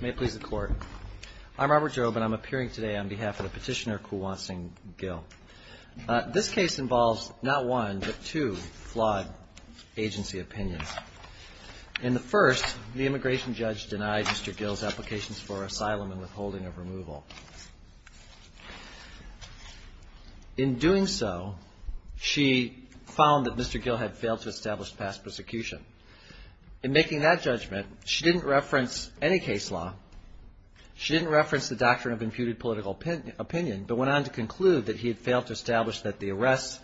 May it please the court. I'm Robert Jobe and I'm appearing today on behalf of the petitioner Kulwant Singh Gill. This case involves not one, but two flawed agency opinions. In the first, the immigration judge denied Mr. Gill's applications for asylum and withholding of removal. In doing so, she found that Mr. Gill had failed to establish past persecution. In making that judgment, she didn't reference any case law. She didn't reference the doctrine of imputed political opinion, but went on to conclude that he had failed to establish that the arrests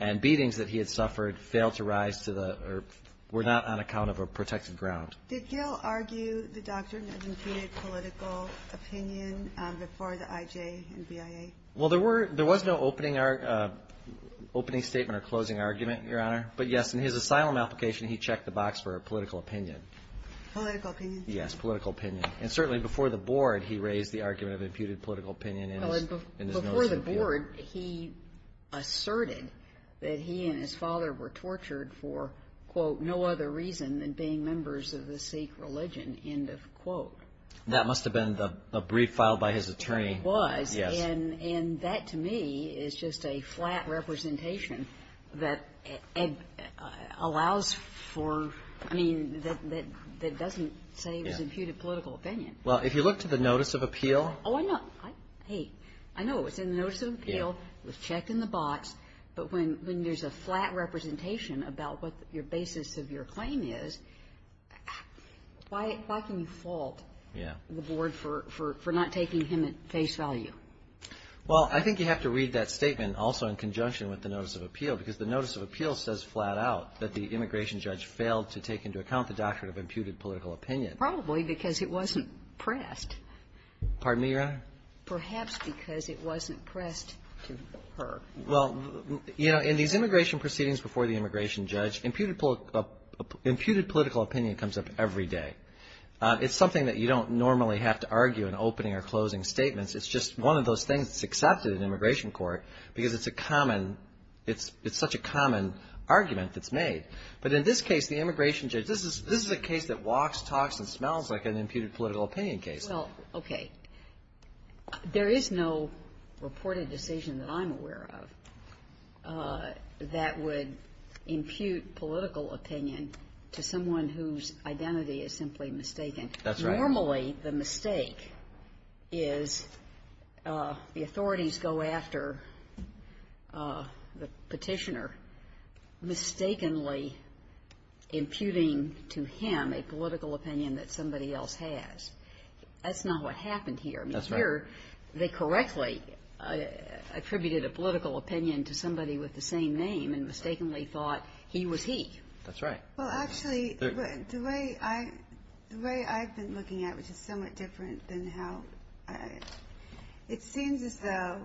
and beatings that he had suffered failed to rise to the, or were not on account of a protected ground. Did Gill argue the doctrine of imputed political opinion before the IJ and BIA? Well, there were, there was no opening, opening statement or closing argument, Your Honor. But yes, in his asylum application, he checked the box for a political opinion. Political opinion? Yes, political opinion. And certainly before the board, he raised the argument of imputed political opinion in his, in his motion. Well, before the board, he asserted that he and his father were tortured for, quote, no other reason than being members of the Sikh religion, end of quote. That must have been the brief filed by his attorney. It was, and that to me is just a flat representation that allows for, I mean, that doesn't say it was imputed political opinion. Well, if you look to the notice of appeal. Oh, I know, I hate, I know it was in the notice of appeal, it was checked in the box, but when there's a flat representation about what your basis of your claim is, why can you fault the board for not taking him at face value? Well, I think you have to read that statement also in conjunction with the notice of appeal, because the notice of appeal says flat out that the immigration judge failed to take into account the doctrine of imputed political opinion. Probably because it wasn't pressed. Pardon me, Your Honor? Perhaps because it wasn't pressed to her. Well, you know, in these immigration proceedings before the immigration judge, imputed political opinion comes up every day. It's something that you don't normally have to argue in opening or closing statements. It's just one of those things that's accepted in immigration court, because it's a common, it's such a common argument that's made. But in this case, the immigration judge, this is a case that walks, talks, and smells like an imputed political opinion case. Well, okay. There is no reported decision that I'm aware of that would impute political opinion to someone whose identity is simply mistaken. That's right. Normally, the mistake is the authorities go after the petitioner mistakenly imputing to him a political opinion that somebody else has. That's not what I'm talking about. I'm talking about someone who has a political opinion to somebody with the same name and mistakenly thought he was he. That's right. Well, actually, the way I've been looking at it, which is somewhat different than how I, it seems as though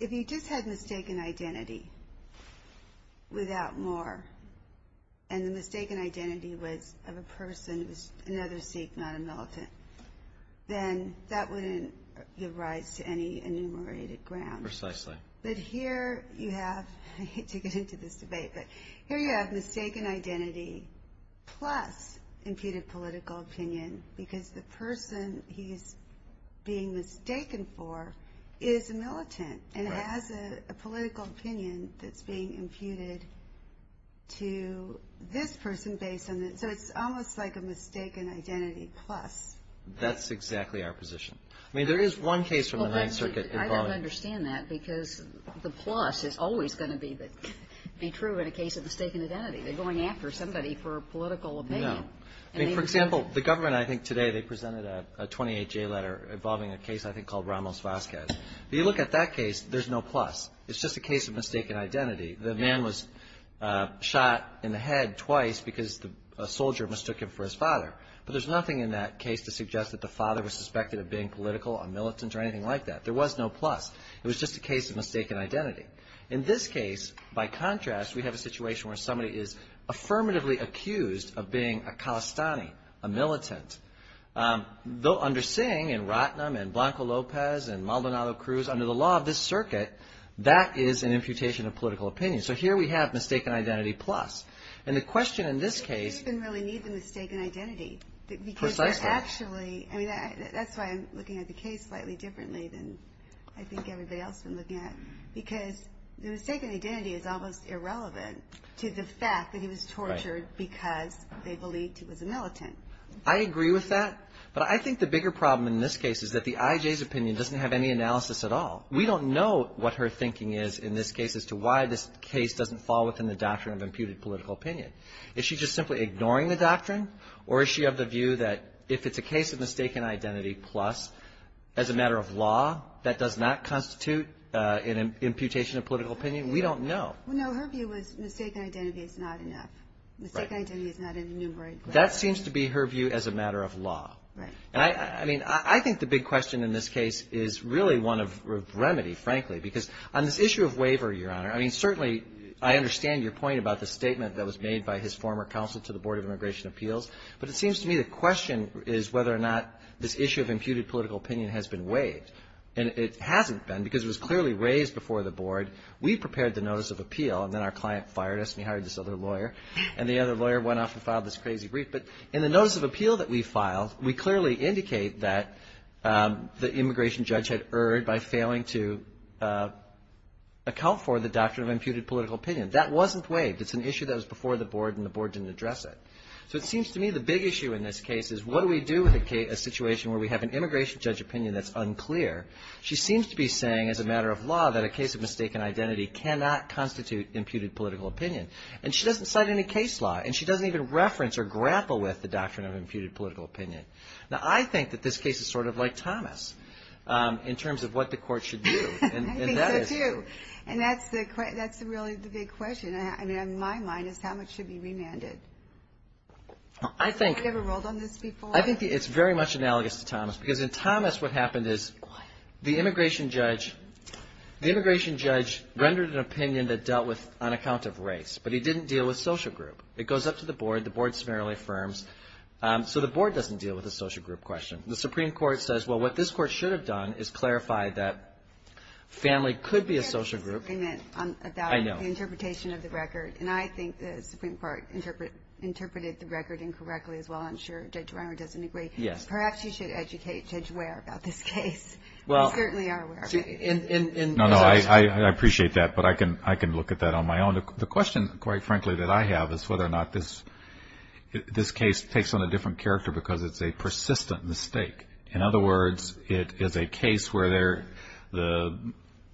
if you just had mistaken identity without more, and the mistaken identity was of a different person, here you have, I hate to get into this debate, but here you have mistaken identity plus imputed political opinion, because the person he's being mistaken for is a militant and has a political opinion that's being imputed to this person based on that. So it's almost like a mistaken identity plus. That's exactly our position. I mean, there is no plus. It's always going to be true in a case of mistaken identity. They're going after somebody for a political opinion. No. I mean, for example, the government, I think today they presented a 28-J letter involving a case I think called Ramos-Vazquez. If you look at that case, there's no plus. It's just a case of mistaken identity. The man was shot in the head twice because a soldier mistook him for his father. But there's nothing in that case to suggest that the father was a militant. In this case, by contrast, we have a situation where somebody is affirmatively accused of being a calistani, a militant. Though under Singh and Ratnam and Blanco Lopez and Maldonado Cruz, under the law of this circuit, that is an imputation of political opinion. So here we have mistaken identity plus. And the question in this case... You don't even really need the mistaken identity. Precisely. Actually, I mean, that's why I'm looking at the case slightly differently than I think everybody else has been looking at. Because the mistaken identity is almost irrelevant to the fact that he was tortured because they believed he was a militant. I agree with that. But I think the bigger problem in this case is that the IJ's opinion doesn't have any analysis at all. We don't know what her thinking is in this case as to why this case doesn't fall within the doctrine of imputed political opinion. Is she just simply ignoring the doctrine? Or is she of the view that if it's a case of mistaken identity plus, as a matter of law, that does not constitute an imputation of political opinion? We don't know. No, her view was mistaken identity is not enough. Mistaken identity is not an enumerated... That seems to be her view as a matter of law. And I mean, I think the big question in this case is really one of remedy, frankly. Because on this issue of waiver, Your Honor, I mean, certainly I understand your point about the statement that was made by his former counsel to the Board of Immigration Appeals. But it seems to me the question is whether or not this issue of imputed political opinion has been waived. And it hasn't been because it was clearly raised before the Board. We prepared the Notice of Appeal. And then our client fired us. And he hired this other lawyer. And the other lawyer went off and filed this crazy brief. But in the Notice of Appeal that we filed, we clearly indicate that the immigration judge had erred by failing to address it. So it seems to me the big issue in this case is what do we do with a situation where we have an immigration judge opinion that's unclear? She seems to be saying as a matter of law that a case of mistaken identity cannot constitute imputed political opinion. And she doesn't cite any case law. And she doesn't even reference or grapple with the doctrine of imputed political opinion. Now, I think that this case is sort of like Thomas in terms of what the court should do. I think so, too. And that's really the big question. I mean, my mind is how much should be remanded? I think it's very much analogous to Thomas. Because in Thomas what happened is the immigration judge rendered an opinion that dealt with an account of race. But he didn't deal with social group. It goes up to the Board. The Board summarily affirms. So the Board doesn't deal with the social group question. The Supreme Court says, well, what this court should have done is clarify that family could be a social group. I know. And I think the Supreme Court interpreted the record incorrectly as well. I'm sure Judge Reimer doesn't agree. Perhaps you should educate Judge Ware about this case. You certainly are aware of it. No, no. I appreciate that. But I can look at that on my own. The question, quite frankly, that I have is whether or not this case takes on a different character because it's a persistent mistake. In other words, it is a case where the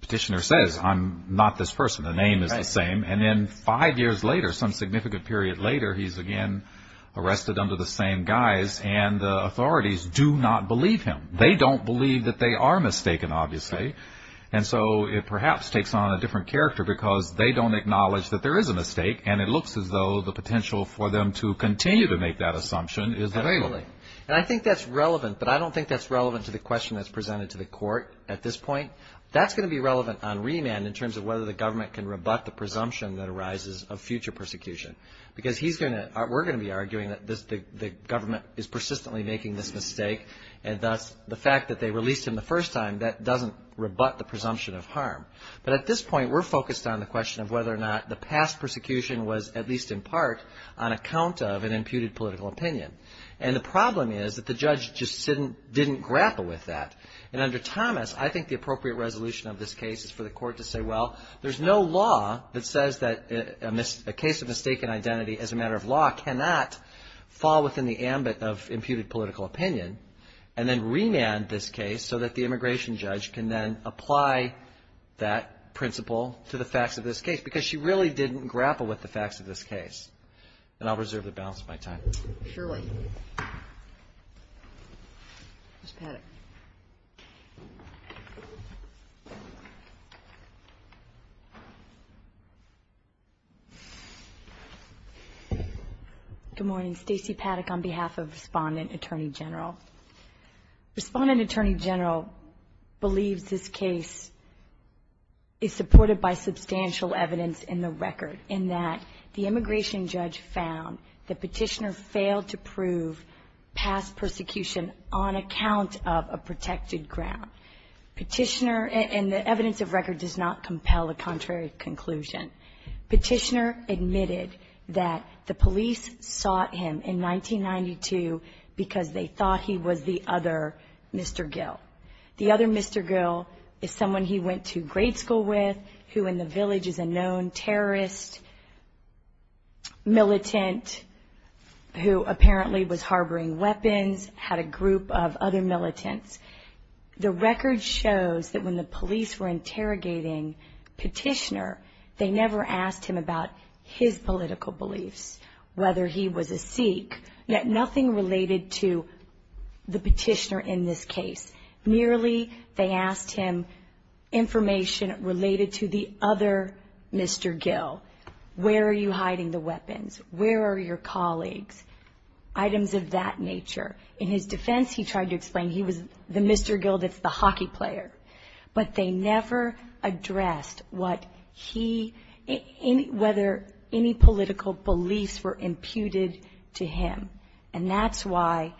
petitioner says, I'm not this person. The name is the same. And then five years later, some significant period later, he's again arrested under the same guise. And the authorities do not believe him. They don't believe that they are mistaken, obviously. And so it perhaps takes on a different character because they don't acknowledge that there is a mistake. And it looks as though the potential for them to continue to make that assumption is available. And I think that's relevant, but I don't think that's relevant to the question that's presented to the court at this point. That's going to be relevant on remand in terms of whether the government can rebut the presumption that arises of future persecution, because we're going to be arguing that the government is persistently making this mistake. And thus the fact that they released him the first time, that doesn't rebut the presumption of harm. But at this point, we're focused on the question of whether or not the past persecution was, at least in part, on account of an imputed political opinion. And the problem is that the judge just didn't grapple with that. And under Thomas, I think the appropriate resolution of this case is for the court to say, well, there's no law that says that a case of mistaken identity as a matter of law cannot fall within the ambit of imputed political opinion, and then remand this case so that the immigration judge can then apply that principle to the facts of this case, because she really didn't grapple with the facts of this case. And I'll reserve the balance of my time. MS. PADDOCK. Surely. Ms. Paddock. MS. PADDOCK. Good morning. Stacey Paddock on behalf of Respondent Attorney General. Respondent Attorney General believes this case is supported by substantial evidence in the record, in that the immigration judge found that Petitioner failed to prove past persecution on account of an imputed political opinion. Petitioner, and the evidence of record does not compel a contrary conclusion. Petitioner admitted that the police sought him in 1992 because they thought he was the other Mr. Gill. The other Mr. Gill is someone he went to grade school with, who in the village is a known terrorist, militant, who apparently was harboring weapons, had a group of other militants, the record shows that when the police were interrogating Petitioner, they never asked him about his political beliefs, whether he was a Sikh, yet nothing related to the Petitioner in this case. Merely they asked him information related to the other Mr. Gill. Where are you hiding the weapons? Where are your colleagues? Items of that nature. In his defense, he tried to explain he was the Mr. Gill that's the hockey player. But they never addressed what he, whether any political beliefs were imputed to him. And that's why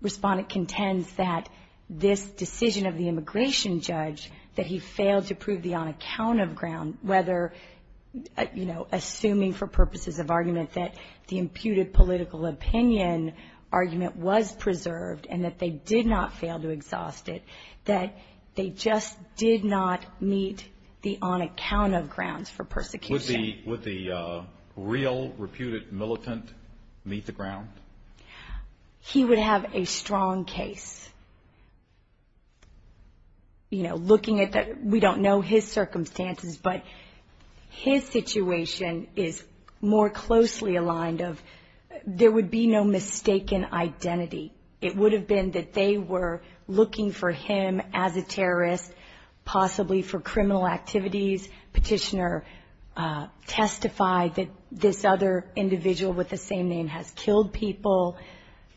Respondent contends that this decision of the immigration judge, that he failed to prove the on-account of ground, whether, you know, assuming for purposes of argument that the imputed political opinion, argument was preserved and that they did not fail to exhaust it, that they just did not meet the on-account of grounds for persecution. Would the real reputed militant meet the ground? He would have a strong case. You know, looking at that, we don't know his circumstances, but his situation is more closely aligned of, there would be no mistaken identity. It would have been that they were looking for him as a terrorist, possibly for criminal activities. Petitioner testified that this other individual with the same name has killed people.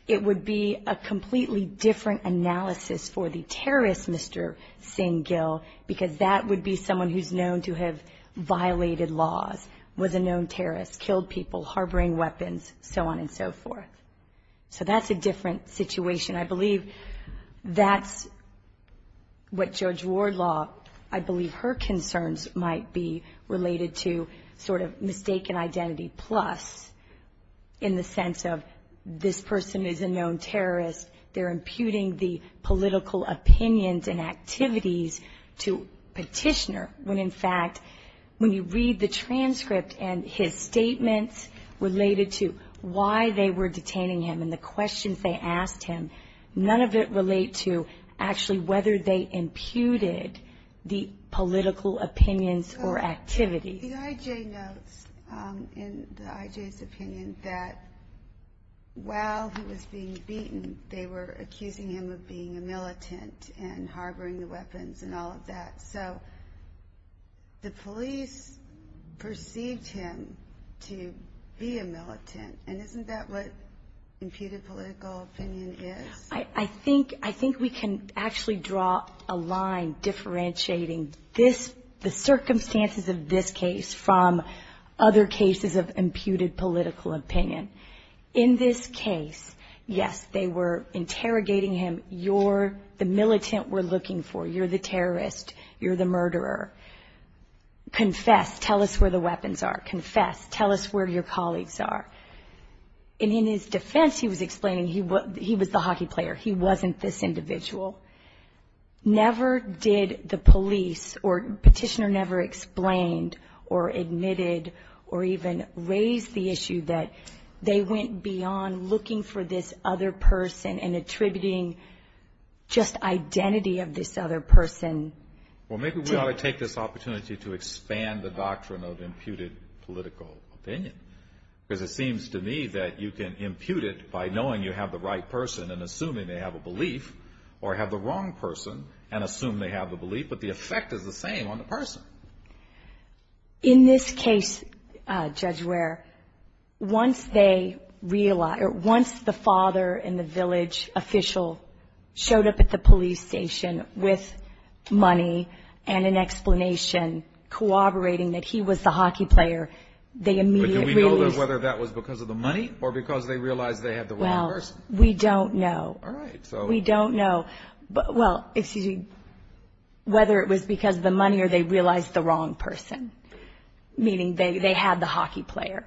It would be a completely different analysis for the terrorist Mr. Singh Gill, because that would be someone who's known to have violated laws, was a known terrorist, killed people, harboring weapons, so on and so forth. So that's a different situation. I believe that's what Judge Wardlaw, I believe her concerns might be related to sort of mistaken identity, plus in the sense of this person is a known terrorist, they're imputing the political opinions and activities to petitioner, when in fact, when you read the transcript and his statements related to why they were detaining him and the questions they asked him, none of it relate to actually whether they imputed the political opinions or activities. The IJ notes in the IJ's opinion that while he was being beaten, they were accusing him of being a militant and harboring the weapons and all of that. So the police perceived him to be a militant, and isn't that what imputed political opinion is? I think we can actually draw a line differentiating the circumstances of this case from other cases of imputed political opinion. In this case, yes, they were interrogating him. You're the militant we're looking for, you're the terrorist, you're the murderer. Confess, tell us where the weapons are, confess, tell us where your colleagues are. And in his defense, he was explaining he was the hockey player, he wasn't this individual. Never did the police or petitioner never explained or admitted or even raised the issue that they went beyond looking for this other person and attributing just identity of this other person. Well, maybe we ought to take this opportunity to expand the doctrine of imputed political opinion. Because it seems to me that you can impute it by knowing you have the right person and assuming they have a belief, or have the wrong person and assume they have a belief, but the effect is the same on the person. In this case, Judge Ware, once they realized, or once the father and the village official showed up at the police station with money and an explanation corroborating that he was the hockey player, they immediately released... But do we know whether that was because of the money or because they realized they had the wrong person? We don't know. Whether it was because of the money or they realized the wrong person, meaning they had the hockey player,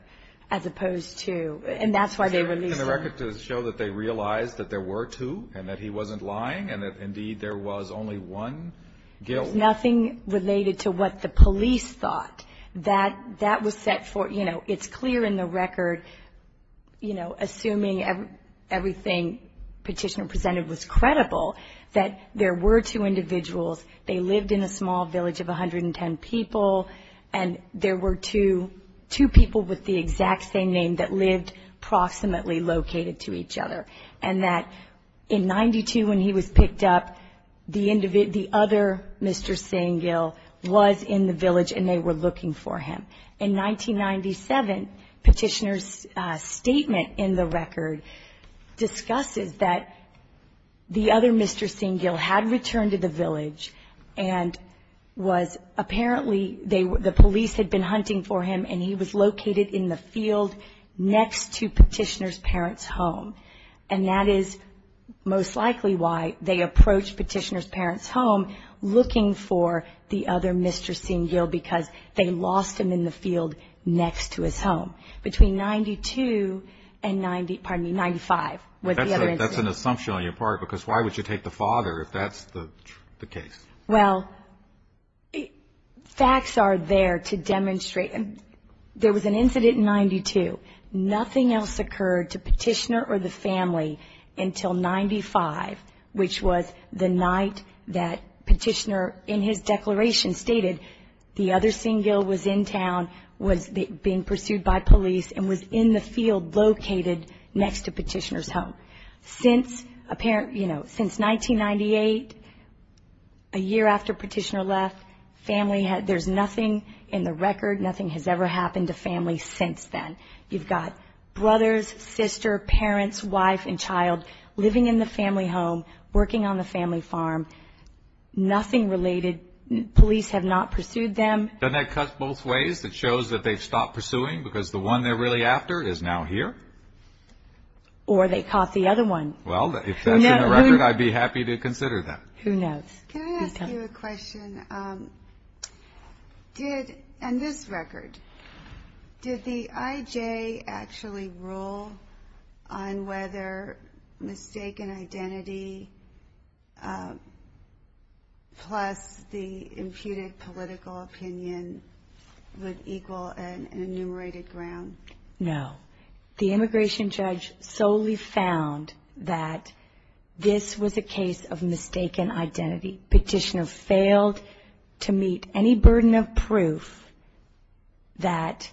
as opposed to... Can the record show that they realized that there were two and that he wasn't lying and that indeed there was only one guilt? There's nothing related to what the police thought. That was set for, you know, it's clear in the record, you know, assuming everything Petitioner presented was credible, that there were two individuals. They lived in a small village of 110 people, and there were two people with the exact same name that lived approximately located to each other. And that in 92, when he was picked up, the other Mr. Sengill was in the village and they were looking for him. In 1997, Petitioner's statement in the record discusses that the other Mr. Sengill had returned to the village and was apparently... The police had been hunting for him and he was located in the field next to Petitioner's parents' home. And that is most likely why they approached Petitioner's parents' home looking for the other Mr. Sengill, because they lost him in the field next to his home. Between 92 and 90, pardon me, 95. That's an assumption on your part, because why would you take the father if that's the case? Well, facts are there to demonstrate... There was an incident in 92. Nothing else occurred to Petitioner or the family until 95, which was the night that Petitioner in his declaration stated the other Sengill was in town, was being pursued by police, and was in the field located next to Petitioner's home. Since 1998, a year after Petitioner left, there's nothing in the record, nothing has ever happened to family since then. You've got brothers, sister, parents, wife and child living in the family home, working on the family farm, nothing related. Police have not pursued them. Doesn't that cut both ways? It shows that they've stopped pursuing because the one they're really after is now here? Or they caught the other one. Well, if that's in the record, I'd be happy to consider that. Can I ask you a question? Did, on this record, did the IJ actually rule on whether mistaken identity plus the imputed political opinion would equal an enumerated ground? No. The immigration judge solely found that this was a case of mistaken identity. Petitioner failed to meet any burden of proof that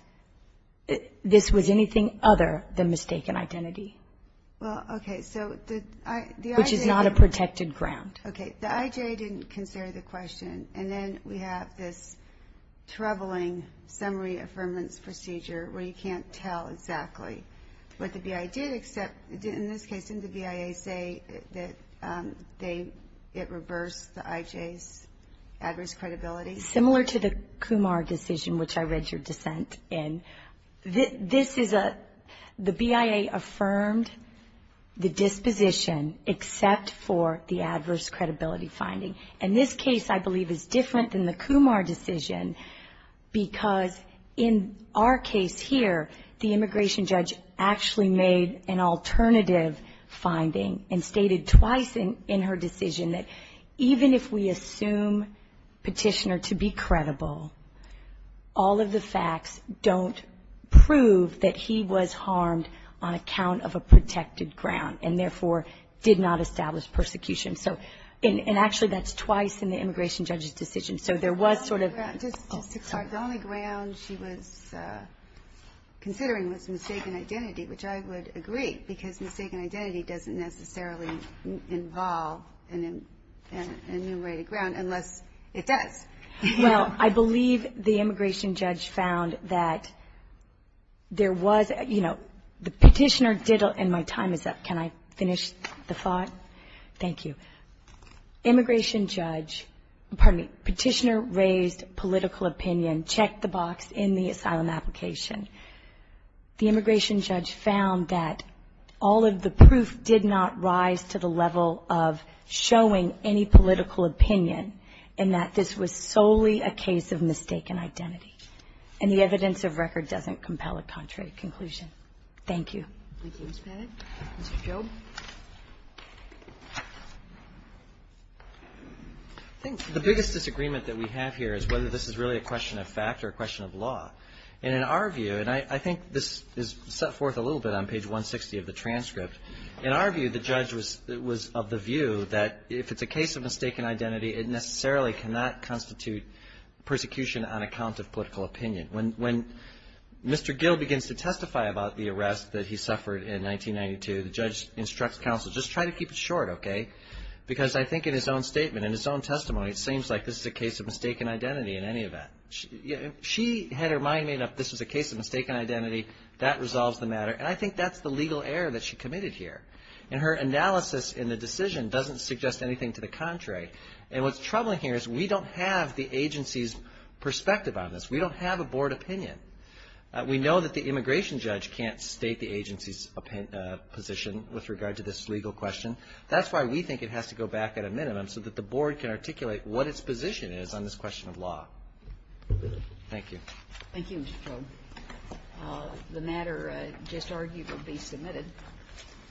this was anything other than mistaken identity. Which is not a protected ground. Okay. The IJ didn't consider the question, and then we have this troubling summary affirmance procedure where you can't tell exactly what the BIA did, except in this case, didn't the BIA say that it reversed the IJ's adverse credibility? Similar to the Kumar decision, which I read your dissent in. This is a, the BIA affirmed the disposition, except for the adverse credibility finding. And this case, I believe, is different than the Kumar decision, because in our case here, the immigration judge actually made an alternative finding and stated twice in her decision that even if we assume petitioner to be credible, all of the facts don't prove that he was harmed on account of a protected ground, and therefore did not establish persecution. So, and actually that's twice in the immigration judge's decision, so there was sort of... The only ground she was considering was mistaken identity, which I would agree, because mistaken identity doesn't necessarily involve an enumerated ground unless it does. Well, I believe the immigration judge found that there was, you know, the petitioner did, and my time is up, can I finish the thought? Thank you. Immigration judge, pardon me, petitioner raised political opinion, checked the box in the asylum application. The immigration judge found that all of the proof did not rise to the level of showing any political opinion, and that this was solely a case of mistaken identity, and the evidence of record doesn't compel a contrary conclusion. Thank you. I think the biggest disagreement that we have here is whether this is really a question of fact or a question of law. And in our view, and I think this is set forth a little bit on page 160 of the transcript, in our view, the judge was of the view that if it's a case of mistaken identity, it necessarily cannot constitute persecution on account of political opinion. When Mr. Gill begins to testify about the arrest that he suffered in 1992, the judge instructs counsel, just try to keep it short, okay? Because I think in his own statement, in his own testimony, it seems like this is a case of mistaken identity in any event. She had her mind made up this was a case of mistaken identity, that resolves the matter, and I think that's the legal error that she committed here. And her analysis in the decision doesn't suggest anything to the contrary. And what's troubling here is we don't have the agency's perspective on this. We don't have a board opinion. We know that the immigration judge can't state the agency's position with regard to this legal question. That's why we think it has to go back at a minimum so that the board can articulate what its position is on this question of law. Thank you.